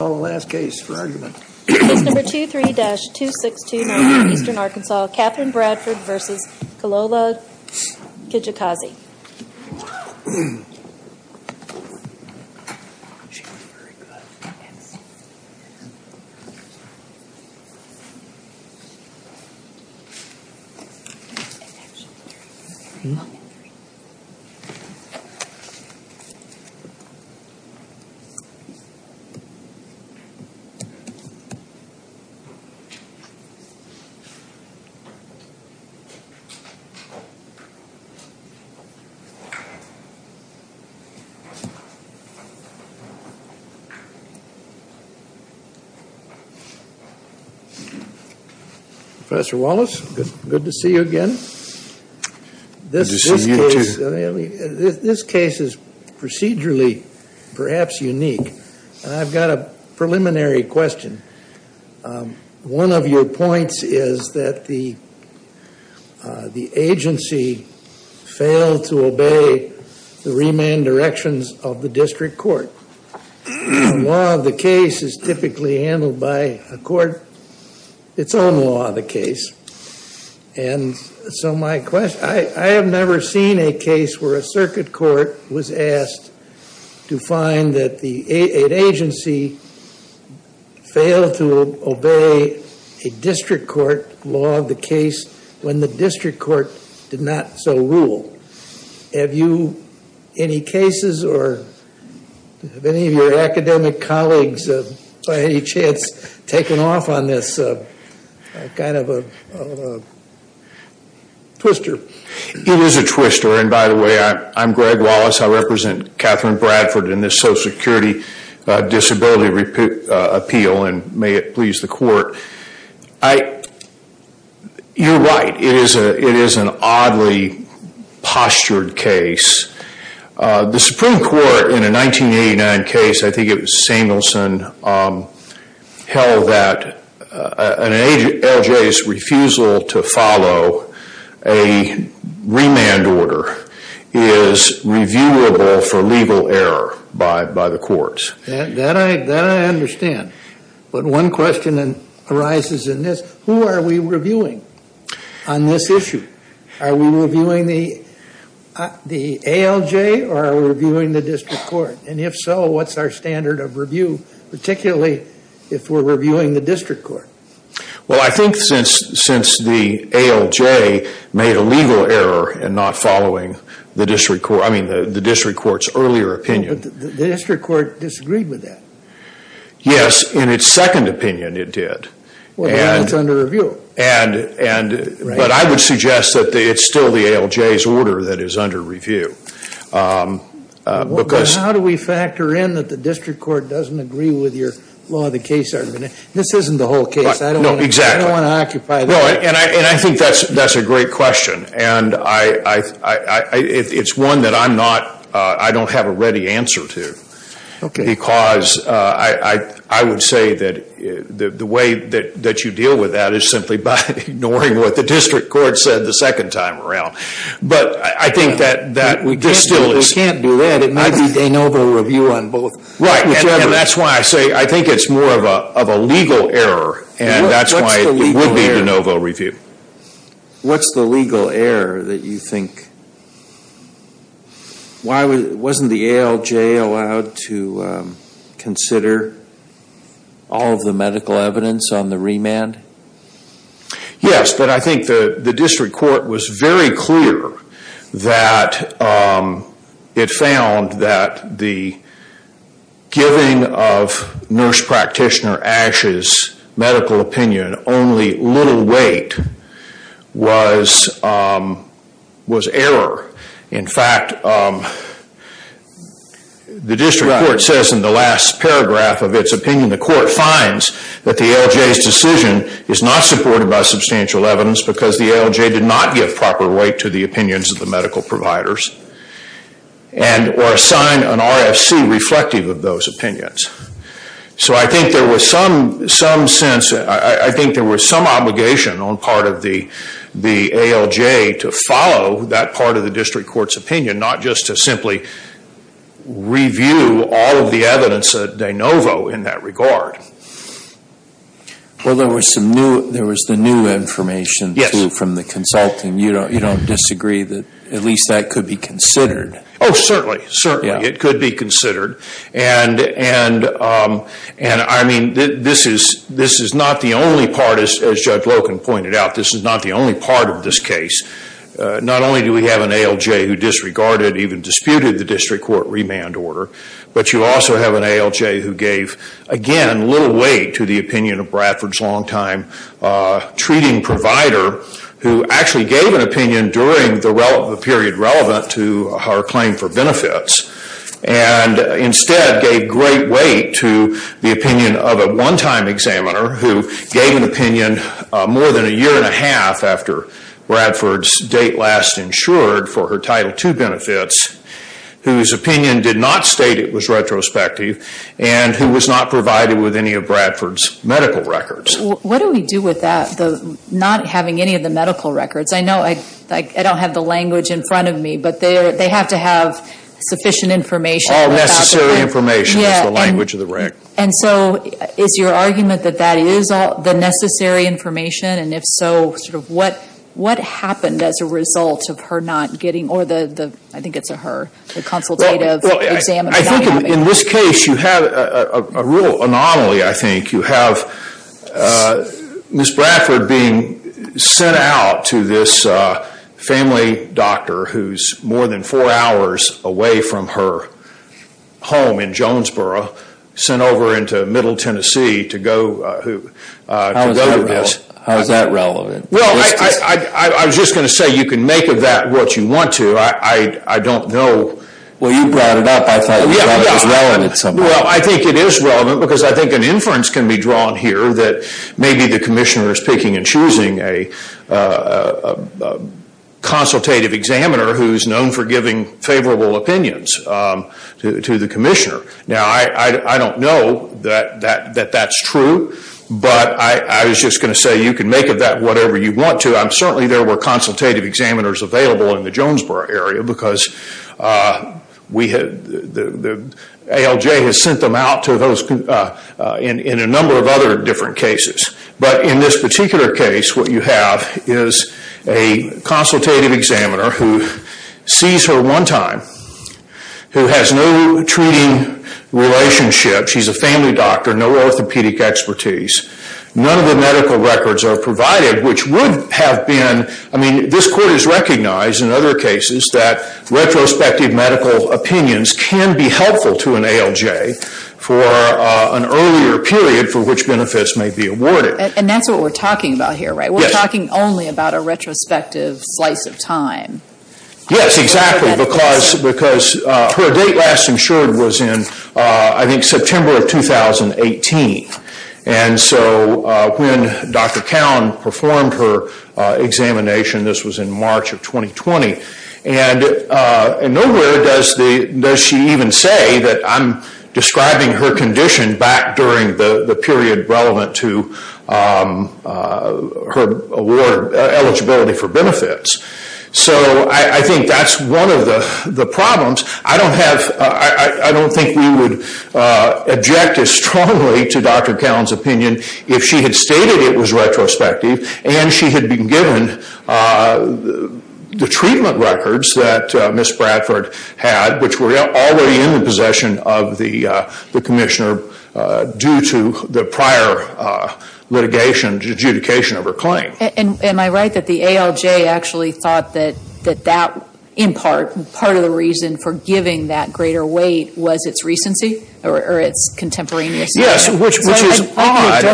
Case number 23-2629, Eastern Arkansas, Katherine Bradford v. Kilolo Kijakazi Professor Wallace, good to see you again. Good to see you too. This case is procedurally perhaps unique. I've got a preliminary question. One of your points is that the agency failed to obey the remand directions of the district court. The law of the case is typically handled by a court, its own law of the case. And so my question, I have never seen a case where a circuit court was asked to find that an agency failed to obey a district court law of the case when the district court did not so rule. Have you any cases or have any of your academic colleagues by any chance taken off on this kind of a twister? It is a twister. And by the way, I'm Greg Wallace. I represent Katherine Bradford in this Social Security Disability Appeal and may it please the court. You're right. It is an oddly postured case. The Supreme Court in a 1989 case, I think it was Samuelson, held that an LJ's refusal to follow a remand order is reviewable for legal error by the courts. That I understand. But one question arises in this, who are we reviewing on this issue? Are we reviewing the ALJ or are we reviewing the district court? And if so, what's our standard of review, particularly if we're reviewing the district court? Well, I think since the ALJ made a legal error in not following the district court's earlier opinion. But the district court disagreed with that. Yes, in its second opinion it did. Well, now it's under review. But I would suggest that it's still the ALJ's order that is under review. But how do we factor in that the district court doesn't agree with your law of the case argument? This isn't the whole case. No, exactly. I don't want to occupy that. And I think that's a great question. And it's one that I don't have a ready answer to. Because I would say that the way that you deal with that is simply by ignoring what the district court said the second time around. But I think that this still is. We can't do that. It might be de novo review on both. Right, and that's why I say I think it's more of a legal error. And that's why it would be de novo review. What's the legal error that you think? Wasn't the ALJ allowed to consider all of the medical evidence on the remand? Yes, but I think the district court was very clear that it found that the giving of nurse practitioner Ash's medical opinion only little weight was error. In fact, the district court says in the last paragraph of its opinion, the court finds that the ALJ's decision is not supported by substantial evidence because the ALJ did not give proper weight to the opinions of the medical providers. And or assign an RFC reflective of those opinions. So I think there was some sense. I think there was some obligation on part of the ALJ to follow that part of the district court's opinion, not just to simply review all of the evidence de novo in that regard. Well, there was the new information from the consulting. You don't disagree that at least that could be considered. Oh, certainly. It could be considered. And I mean, this is not the only part, as Judge Loken pointed out. This is not the only part of this case. Not only do we have an ALJ who disregarded, even disputed the district court remand order, but you also have an ALJ who gave, again, little weight to the opinion of Bradford's longtime treating provider who actually gave an opinion during the period relevant to her claim for benefits. And instead gave great weight to the opinion of a one-time examiner who gave an opinion more than a year and a half after Bradford's date last insured for her Title II benefits, whose opinion did not state it was retrospective, and who was not provided with any of Bradford's medical records. What do we do with that, not having any of the medical records? I know I don't have the language in front of me, but they have to have sufficient information. All necessary information is the language of the rank. And so is your argument that that is the necessary information? And if so, sort of what happened as a result of her not getting, or the, I think it's her, the consultative examiner not getting? I think in this case you have a real anomaly, I think. You have Ms. Bradford being sent out to this family doctor who's more than four hours away from her home in Jonesboro, sent over into Middle Tennessee to go to this. How is that relevant? Well, I was just going to say you can make of that what you want to. I don't know. Well, you brought it up. I thought it was relevant somehow. Well, I think it is relevant because I think an inference can be drawn here that maybe the commissioner is picking and choosing a consultative examiner who's known for giving favorable opinions to the commissioner. Now, I don't know that that's true, but I was just going to say you can make of that whatever you want to. Certainly there were consultative examiners available in the Jonesboro area because ALJ has sent them out to those in a number of other different cases. But in this particular case, what you have is a consultative examiner who sees her one time, who has no treating relationship. She's a family doctor, no orthopedic expertise. None of the medical records are provided, which would have been – I mean, this court has recognized in other cases that retrospective medical opinions can be helpful to an ALJ for an earlier period for which benefits may be awarded. And that's what we're talking about here, right? Yes. We're talking only about a retrospective slice of time. Yes, exactly, because her date last insured was in, I think, September of 2018. And so when Dr. Cowan performed her examination, this was in March of 2020, and nowhere does she even say that I'm describing her condition back during the period relevant to her award eligibility for benefits. So I think that's one of the problems. I don't have – I don't think we would object as strongly to Dr. Cowan's opinion if she had stated it was retrospective and she had been given the treatment records that Ms. Bradford had, which were already in the possession of the commissioner due to the prior litigation, adjudication of her claim. And am I right that the ALJ actually thought that that, in part, part of the reason for giving that greater weight was its recency or its contemporaneity? Yes, which is odd.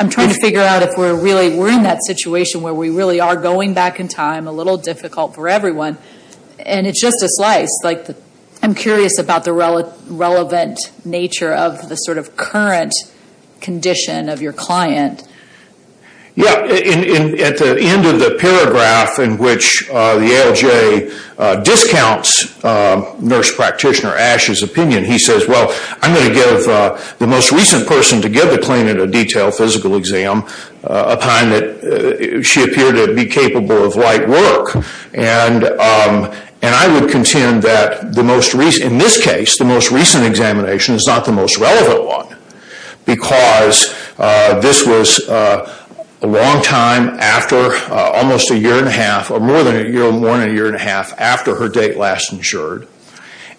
I'm trying to figure out if we're really – we're in that situation where we really are going back in time, a little difficult for everyone, and it's just a slice. I'm curious about the relevant nature of the sort of current condition of your client. Yeah, at the end of the paragraph in which the ALJ discounts Nurse Practitioner Ashe's opinion, he says, well, I'm going to give the most recent person to give the client a detailed physical exam, a time that she appeared to be capable of light work. And I would contend that in this case, the most recent examination is not the most relevant one because this was a long time after almost a year and a half or more than a year and a half after her date last insured.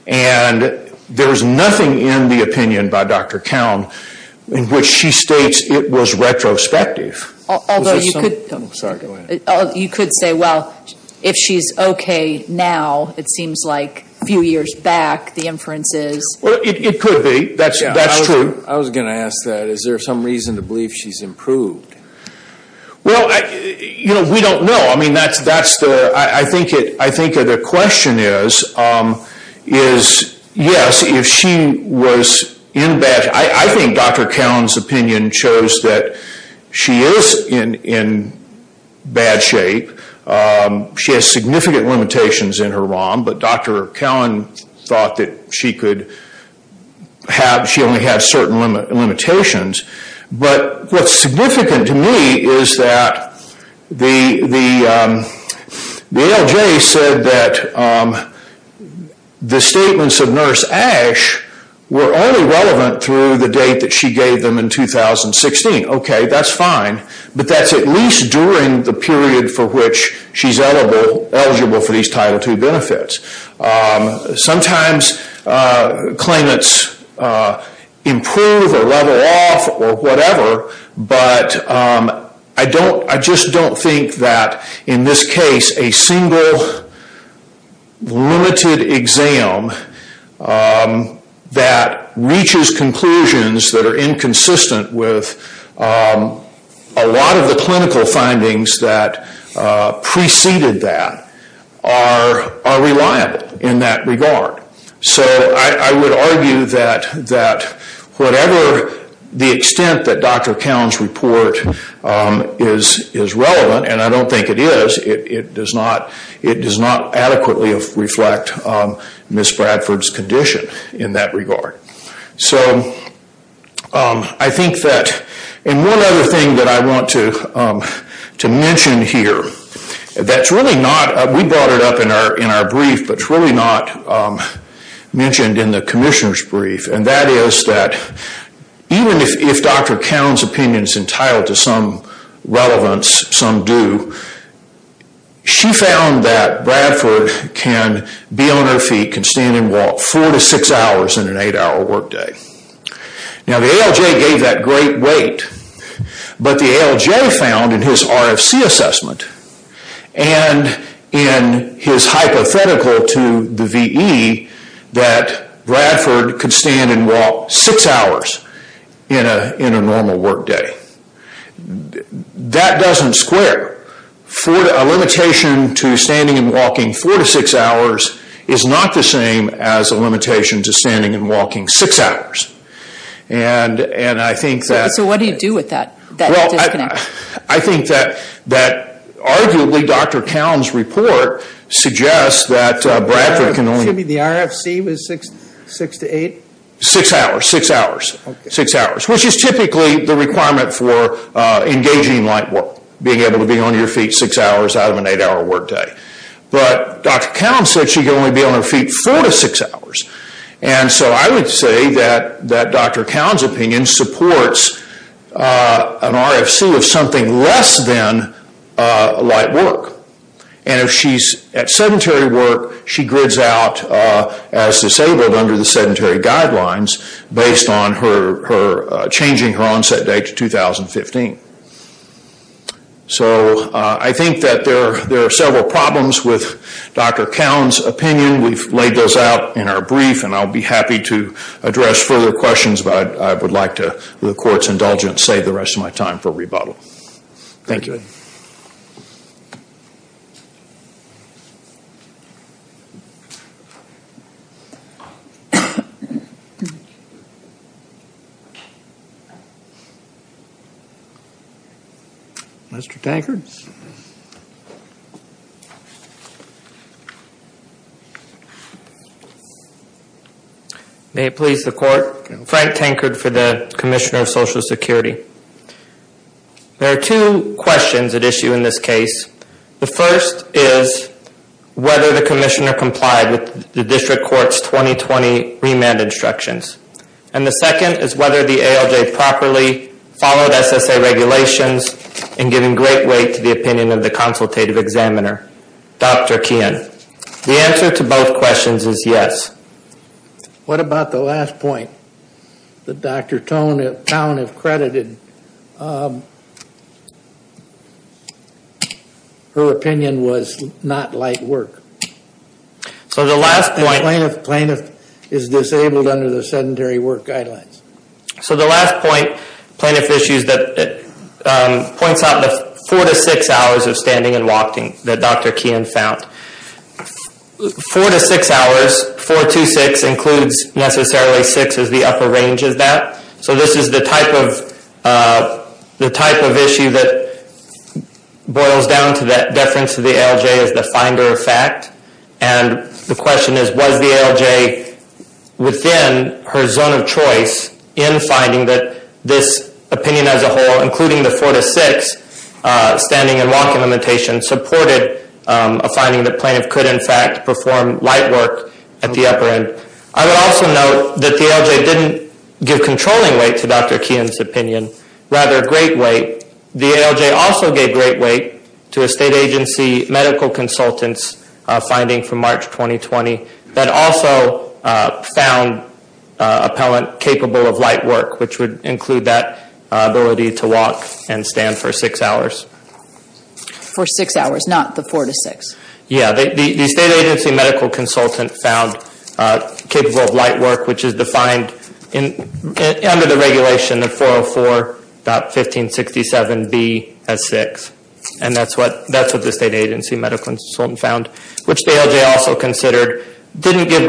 And there's nothing in the opinion by Dr. Cowan in which she states it was retrospective. Sorry, go ahead. You could say, well, if she's okay now, it seems like a few years back, the inferences. Well, it could be. That's true. I was going to ask that. Is there some reason to believe she's improved? Well, you know, we don't know. I mean, that's that's the I think it. I think the question is, is, yes, if she was in bed, I think Dr. Cowan's opinion shows that she is in bad shape. She has significant limitations in her ROM, but Dr. Cowan thought that she could have she only had certain limitations. But what's significant to me is that the ALJ said that the statements of Nurse Ash were only relevant through the date that she gave them in 2016. Okay, that's fine. But that's at least during the period for which she's eligible for these Title II benefits. Sometimes claimants improve or level off or whatever. I just don't think that in this case, a single limited exam that reaches conclusions that are inconsistent with a lot of the clinical findings that preceded that are reliable in that regard. So I would argue that that whatever the extent that Dr. Cowan's report is, is relevant. And I don't think it is. It does not. It does not adequately reflect Miss Bradford's condition in that regard. So I think that, and one other thing that I want to mention here, that's really not, we brought it up in our brief, but it's really not mentioned in the Commissioner's brief. And that is that even if Dr. Cowan's opinion is entitled to some relevance, some do, she found that Bradford can be on her feet, can stand and walk four to six hours in an eight hour work day. Now the ALJ gave that great weight, but the ALJ found in his RFC assessment and in his hypothetical to the VE that Bradford could stand and walk six hours in a normal work day. That doesn't square. A limitation to standing and walking four to six hours is not the same as a limitation to standing and walking six hours. And I think that... So what do you do with that disconnect? I think that arguably Dr. Cowan's report suggests that Bradford can only... Excuse me, the RFC was six to eight? Six hours, six hours, which is typically the requirement for engaging in light work, being able to be on your feet six hours out of an eight hour work day. But Dr. Cowan said she can only be on her feet four to six hours. And so I would say that Dr. Cowan's opinion supports an RFC of something less than light work. And if she's at sedentary work, she grids out as disabled under the sedentary guidelines based on her changing her onset date to 2015. So I think that there are several problems with Dr. Cowan's opinion. We've laid those out in our brief and I'll be happy to address further questions, but I would like to, with the court's indulgence, save the rest of my time for rebuttal. Thank you. Mr. Tankard. May it please the court, Frank Tankard for the Commissioner of Social Security. There are two questions at issue in this case. The first is whether the commissioner complied with the district court's 2020 remand instructions. And the second is whether the ALJ properly followed SSA regulations in giving great weight to the opinion of the consultative examiner. Dr. Keehan. The answer to both questions is yes. What about the last point that Dr. Cowan has credited? Her opinion was not light work. So the last point... Plaintiff is disabled under the sedentary work guidelines. So the last point, plaintiff issues, points out the four to six hours of standing and walking that Dr. Keehan found. Four to six hours, 4-2-6, includes necessarily six as the upper range of that. So this is the type of issue that boils down to that deference to the ALJ as the finder of fact. And the question is, was the ALJ within her zone of choice in finding that this opinion as a whole, including the four to six standing and walking limitations, supported a finding that plaintiff could in fact perform light work at the upper end. I would also note that the ALJ didn't give controlling weight to Dr. Keehan's opinion, rather great weight. The ALJ also gave great weight to a state agency medical consultant's finding from March 2020 that also found appellant capable of light work, which would include that ability to walk and stand for six hours. For six hours, not the four to six. Yeah, the state agency medical consultant found capable of light work, which is defined under the regulation of 404.1567B as six. And that's what the state agency medical consultant found, which the ALJ also considered didn't give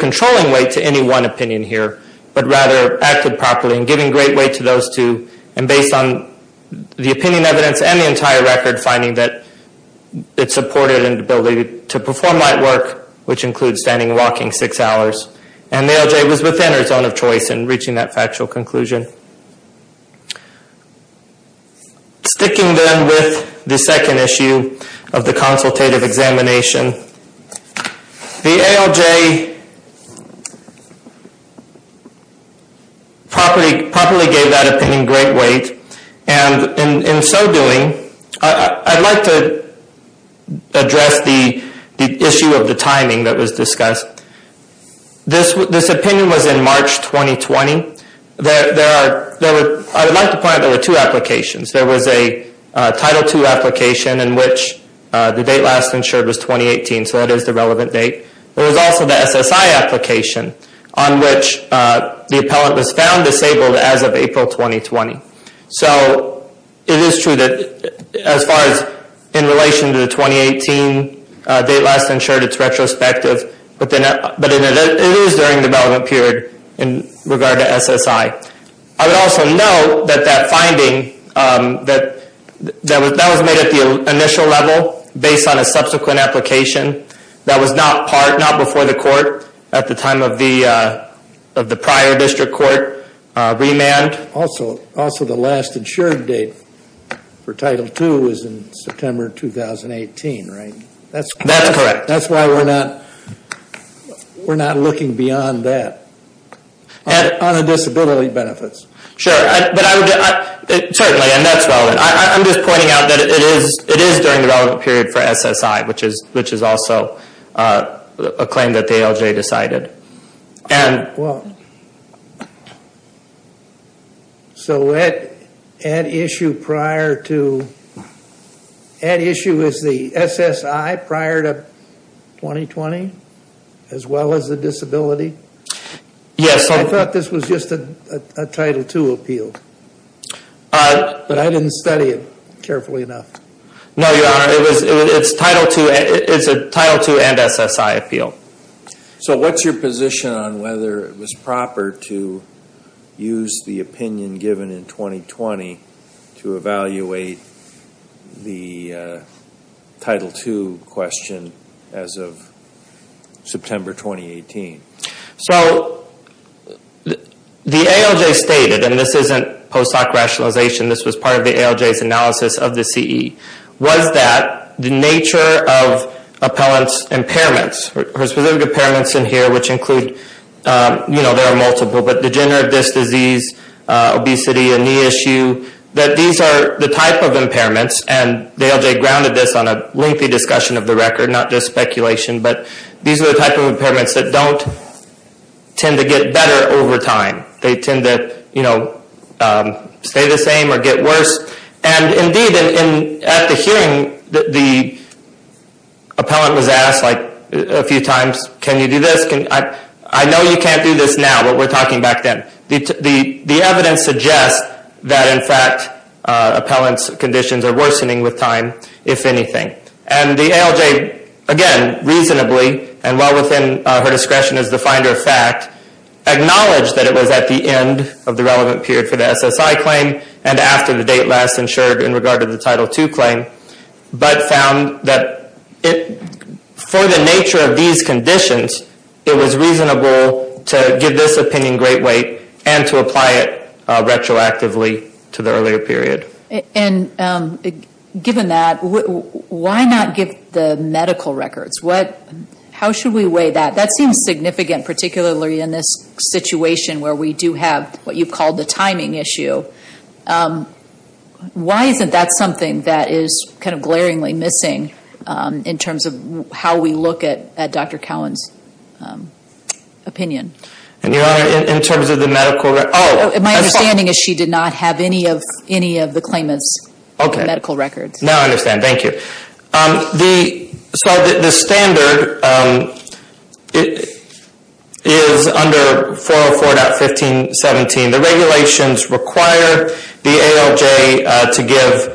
controlling weight to any one opinion here, but rather acted properly in giving great weight to those two. And based on the opinion evidence and the entire record, finding that it supported an ability to perform light work, which includes standing and walking six hours. And the ALJ was within her zone of choice in reaching that factual conclusion. Sticking then with the second issue of the consultative examination, the ALJ probably gave that opinion great weight. And in so doing, I'd like to address the issue of the timing that was discussed. This opinion was in March 2020. I would like to point out there were two applications. There was a Title II application in which the date last insured was 2018, so that is the relevant date. There was also the SSI application on which the appellant was found disabled as of April 2020. So it is true that as far as in relation to the 2018 date last insured, it's retrospective. But it is during the relevant period in regard to SSI. I would also note that that finding, that was made at the initial level based on a subsequent application that was not part, not before the court at the time of the prior district court remand. But also the last insured date for Title II was in September 2018, right? That's correct. That's why we're not looking beyond that on the disability benefits. Sure. Certainly, and that's relevant. I'm just pointing out that it is during the relevant period for SSI, which is also a claim that the ALJ decided. Well, so that issue prior to, that issue is the SSI prior to 2020 as well as the disability? Yes. I thought this was just a Title II appeal, but I didn't study it carefully enough. No, Your Honor. It's a Title II and SSI appeal. So what's your position on whether it was proper to use the opinion given in 2020 to evaluate the Title II question as of September 2018? So the ALJ stated, and this isn't post hoc rationalization, this was part of the ALJ's analysis of the CE, was that the nature of appellant's impairments, or specific impairments in here, which include, you know, there are multiple, but degenerative disc disease, obesity, a knee issue, that these are the type of impairments. And the ALJ grounded this on a lengthy discussion of the record, not just speculation, but these are the type of impairments that don't tend to get better over time. They tend to, you know, stay the same or get worse. And indeed, at the hearing, the appellant was asked like a few times, can you do this? I know you can't do this now, but we're talking back then. The evidence suggests that, in fact, appellant's conditions are worsening with time, if anything. And the ALJ, again, reasonably, and well within her discretion as the finder of fact, acknowledged that it was at the end of the relevant period for the SSI claim and after the date last insured in regard to the Title II claim, but found that for the nature of these conditions, it was reasonable to give this opinion great weight and to apply it retroactively to the earlier period. And given that, why not give the medical records? How should we weigh that? That seems significant, particularly in this situation where we do have what you've called the timing issue. Why isn't that something that is kind of glaringly missing in terms of how we look at Dr. Cowan's opinion? And, Your Honor, in terms of the medical records? My understanding is she did not have any of the claimant's medical records. Now I understand. Thank you. The standard is under 404.1517. The regulations require the ALJ to give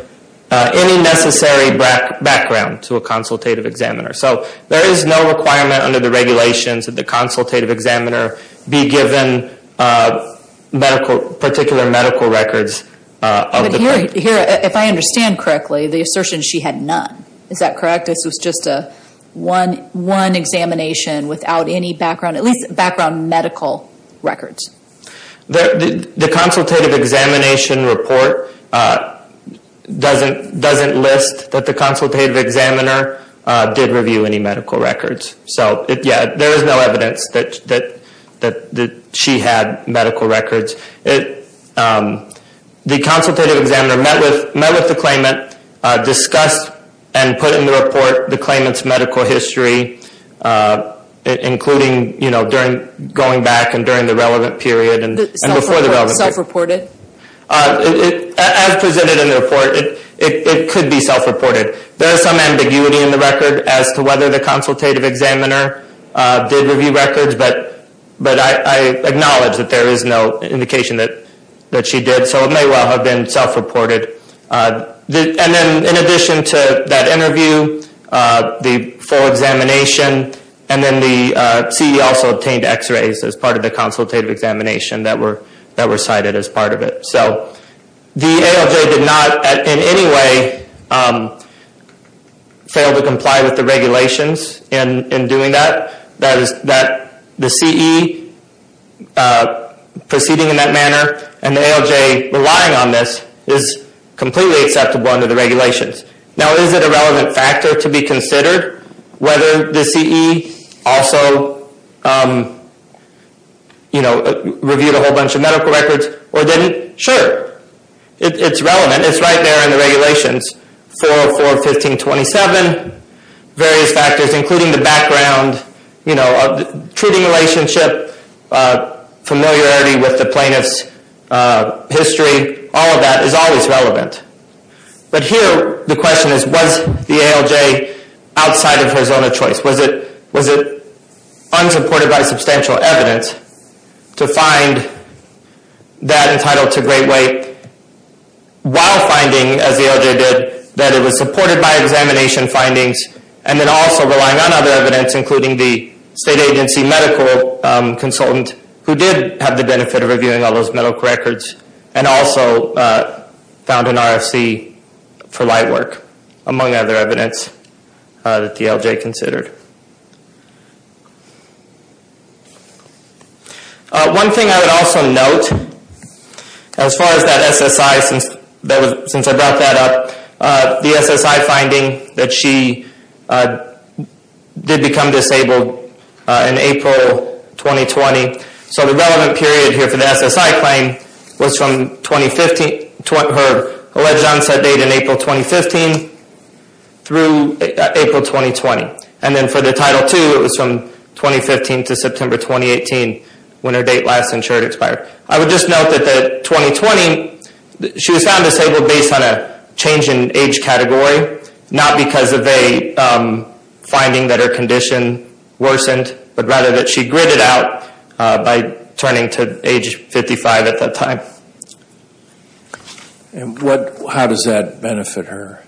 any necessary background to a consultative examiner. So there is no requirement under the regulations that the consultative examiner be given particular medical records of the claimant. Your Honor, if I understand correctly, the assertion she had none. Is that correct? This was just one examination without any background, at least background medical records. The consultative examination report doesn't list that the consultative examiner did review any medical records. So, yeah, there is no evidence that she had medical records. The consultative examiner met with the claimant, discussed and put in the report the claimant's medical history, including going back and during the relevant period and before the relevant period. Self-reported? As presented in the report, it could be self-reported. There is some ambiguity in the record as to whether the consultative examiner did review records, but I acknowledge that there is no indication that she did. So it may well have been self-reported. And then in addition to that interview, the full examination, and then the CE also obtained x-rays as part of the consultative examination that were cited as part of it. So the ALJ did not in any way fail to comply with the regulations in doing that. The CE proceeding in that manner and the ALJ relying on this is completely acceptable under the regulations. Now, is it a relevant factor to be considered whether the CE also reviewed a whole bunch of medical records or didn't? Sure. It's relevant. It's right there in the regulations. 404, 1527, various factors, including the background, treating relationship, familiarity with the plaintiff's history. All of that is always relevant. But here the question is, was the ALJ outside of her zone of choice? Was it unsupported by substantial evidence to find that entitled to great weight while finding, as the ALJ did, that it was supported by examination findings and then also relying on other evidence, including the state agency medical consultant who did have the benefit of reviewing all those medical records and also found an RFC for light work, among other evidence that the ALJ considered. One thing I would also note, as far as that SSI, since I brought that up, the SSI finding that she did become disabled in April 2020. So the relevant period here for the SSI claim was from her alleged onset date in April 2015 through April 2020. And then for the Title II, it was from 2015 to September 2018 when her date last insured expired. I would just note that 2020, she was found disabled based on a change in age category, not because of a finding that her condition worsened, but rather that she gritted out by turning to age 55 at that time. And how does that benefit her?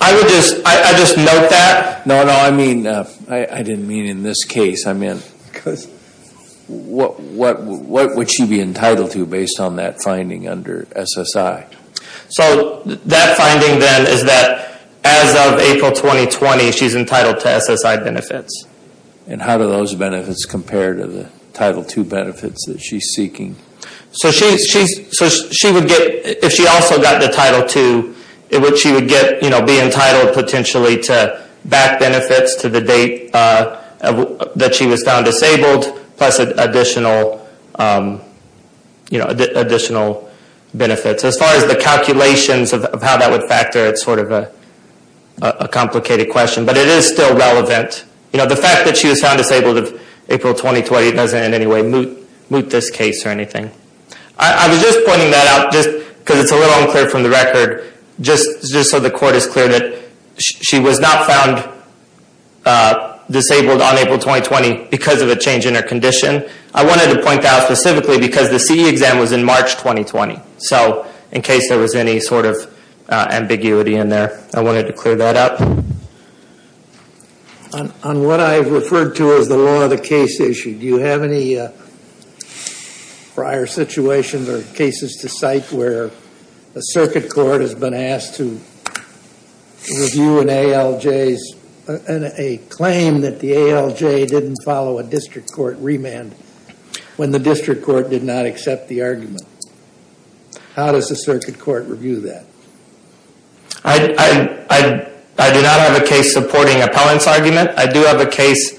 I would just, I would just note that. No, no, I mean, I didn't mean in this case. I meant what would she be entitled to based on that finding under SSI? So that finding then is that as of April 2020, she's entitled to SSI benefits. And how do those benefits compare to the Title II benefits that she's seeking? So she would get, if she also got the Title II, she would get, you know, be entitled potentially to back benefits to the date that she was found disabled, plus additional, you know, additional benefits. As far as the calculations of how that would factor, it's sort of a complicated question. But it is still relevant. You know, the fact that she was found disabled of April 2020 doesn't in any way moot this case or anything. I was just pointing that out just because it's a little unclear from the record, just so the court is clear that she was not found disabled on April 2020 because of a change in her condition. I wanted to point that out specifically because the CE exam was in March 2020. So in case there was any sort of ambiguity in there, I wanted to clear that up. On what I've referred to as the law of the case issue, do you have any prior situations or cases to cite where a circuit court has been asked to review an ALJ's, how does the circuit court review that? I do not have a case supporting appellant's argument. I do have a case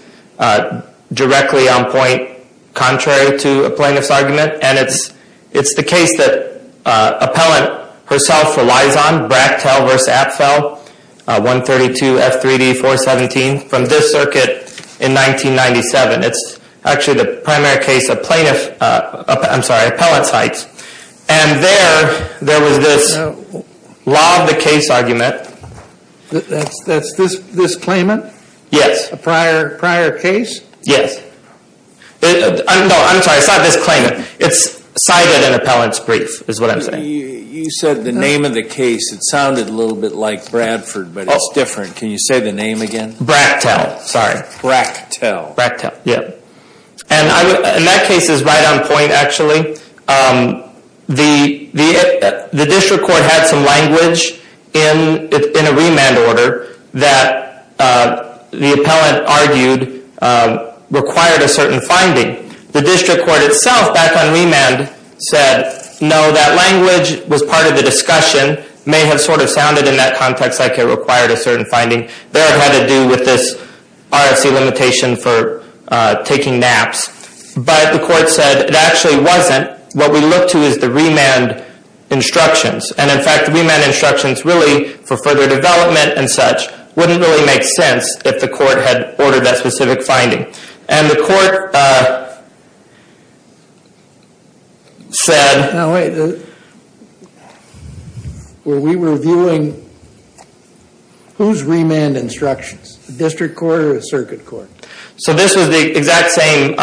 directly on point contrary to a plaintiff's argument. And it's the case that appellant herself relies on, Brachtel v. Apfel, 132 F3D 417, from this circuit in 1997. It's actually the primary case a plaintiff, I'm sorry, appellant cites. And there, there was this law of the case argument. That's this claimant? Yes. A prior case? Yes. I'm sorry, it's not this claimant. It's cited in appellant's brief, is what I'm saying. You said the name of the case. It sounded a little bit like Bradford, but it's different. Can you say the name again? Brachtel, sorry. Brachtel. Brachtel, yeah. And that case is right on point, actually. The district court had some language in a remand order that the appellant argued required a certain finding. The district court itself, back on remand, said no, that language was part of the discussion, may have sort of sounded in that context like it required a certain finding. There had to do with this RFC limitation for taking naps. But the court said it actually wasn't. What we look to is the remand instructions. And, in fact, the remand instructions really, for further development and such, wouldn't really make sense if the court had ordered that specific finding. And the court said... Now, wait. When we were viewing, whose remand instructions? The district court or the circuit court? So this was the exact same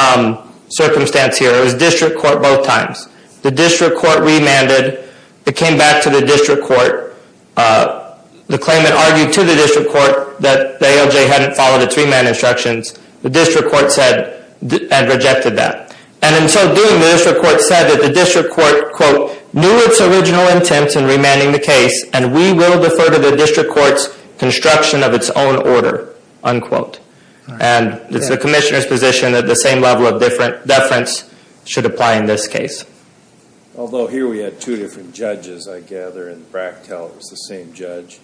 circumstance here. It was district court both times. The district court remanded. It came back to the district court. The claimant argued to the district court that the ALJ hadn't followed its remand instructions. The district court said and rejected that. And, in so doing, the district court said that the district court, quote, knew its original intent in remanding the case, and we will defer to the district court's construction of its own order, unquote. And it's the commissioner's position that the same level of deference should apply in this case. Although here we had two different judges, I gather, and Brachtel was the same judge.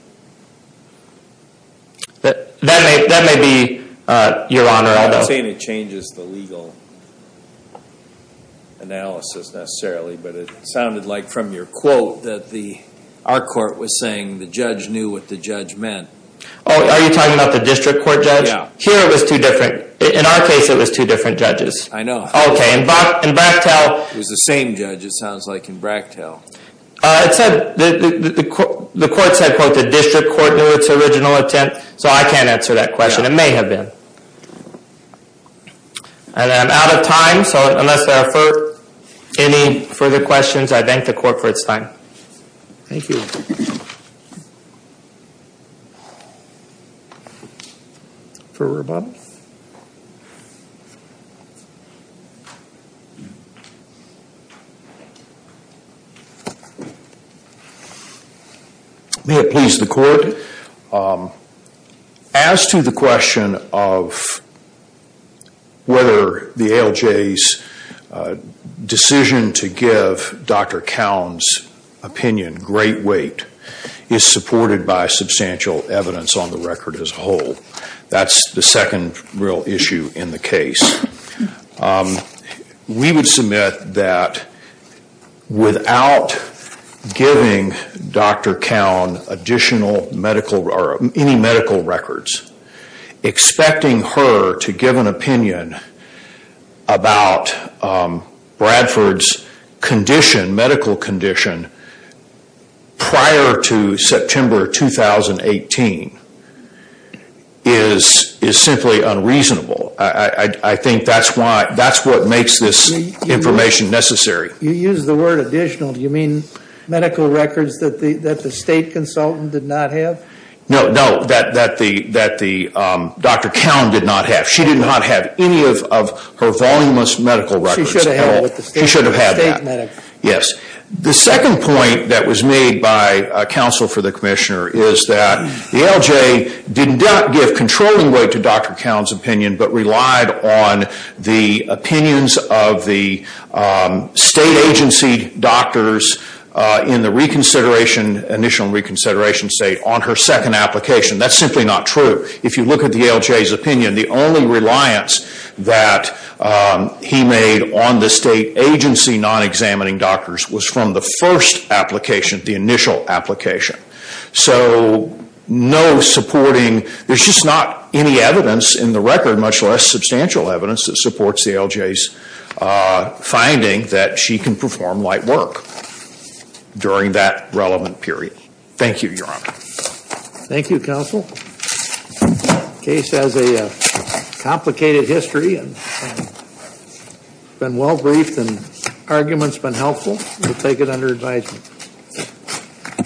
That may be your honor, although... I'm not saying it changes the legal analysis necessarily, but it sounded like from your quote that our court was saying the judge knew what the judge meant. Oh, are you talking about the district court judge? Yeah. Here it was two different. In our case, it was two different judges. I know. Okay. In Brachtel... It was the same judge, it sounds like, in Brachtel. It said the court said, quote, the district court knew its original intent, so I can't answer that question. It may have been. And I'm out of time, so unless there are any further questions, I thank the court for its time. Thank you. Further rebuttals? May it please the court, as to the question of whether the ALJ's decision to give Dr. Cowen's opinion great weight is supported by substantial evidence on the record as a whole. That's the second real issue in the case. We would submit that without giving Dr. Cowen additional medical or any medical records, expecting her to give an opinion about Bradford's condition, medical condition, prior to September 2018 is simply unreasonable. I think that's what makes this information necessary. You use the word additional. Do you mean medical records that the state consultant did not have? No, that Dr. Cowen did not have. She did not have any of her voluminous medical records. She should have had that. The second point that was made by counsel for the commissioner is that the ALJ did not give controlling weight to Dr. Cowen's opinion, but relied on the opinions of the state agency doctors in the initial reconsideration state on her second application. That's simply not true. If you look at the ALJ's opinion, the only reliance that he made on the state agency non-examining doctors was from the first application, the initial application. So no supporting, there's just not any evidence in the record, much less substantial evidence that supports the ALJ's finding that she can perform light work during that relevant period. Thank you, Your Honor. Thank you, counsel. Case has a complicated history and been well briefed and arguments been helpful. We'll take it under advisement.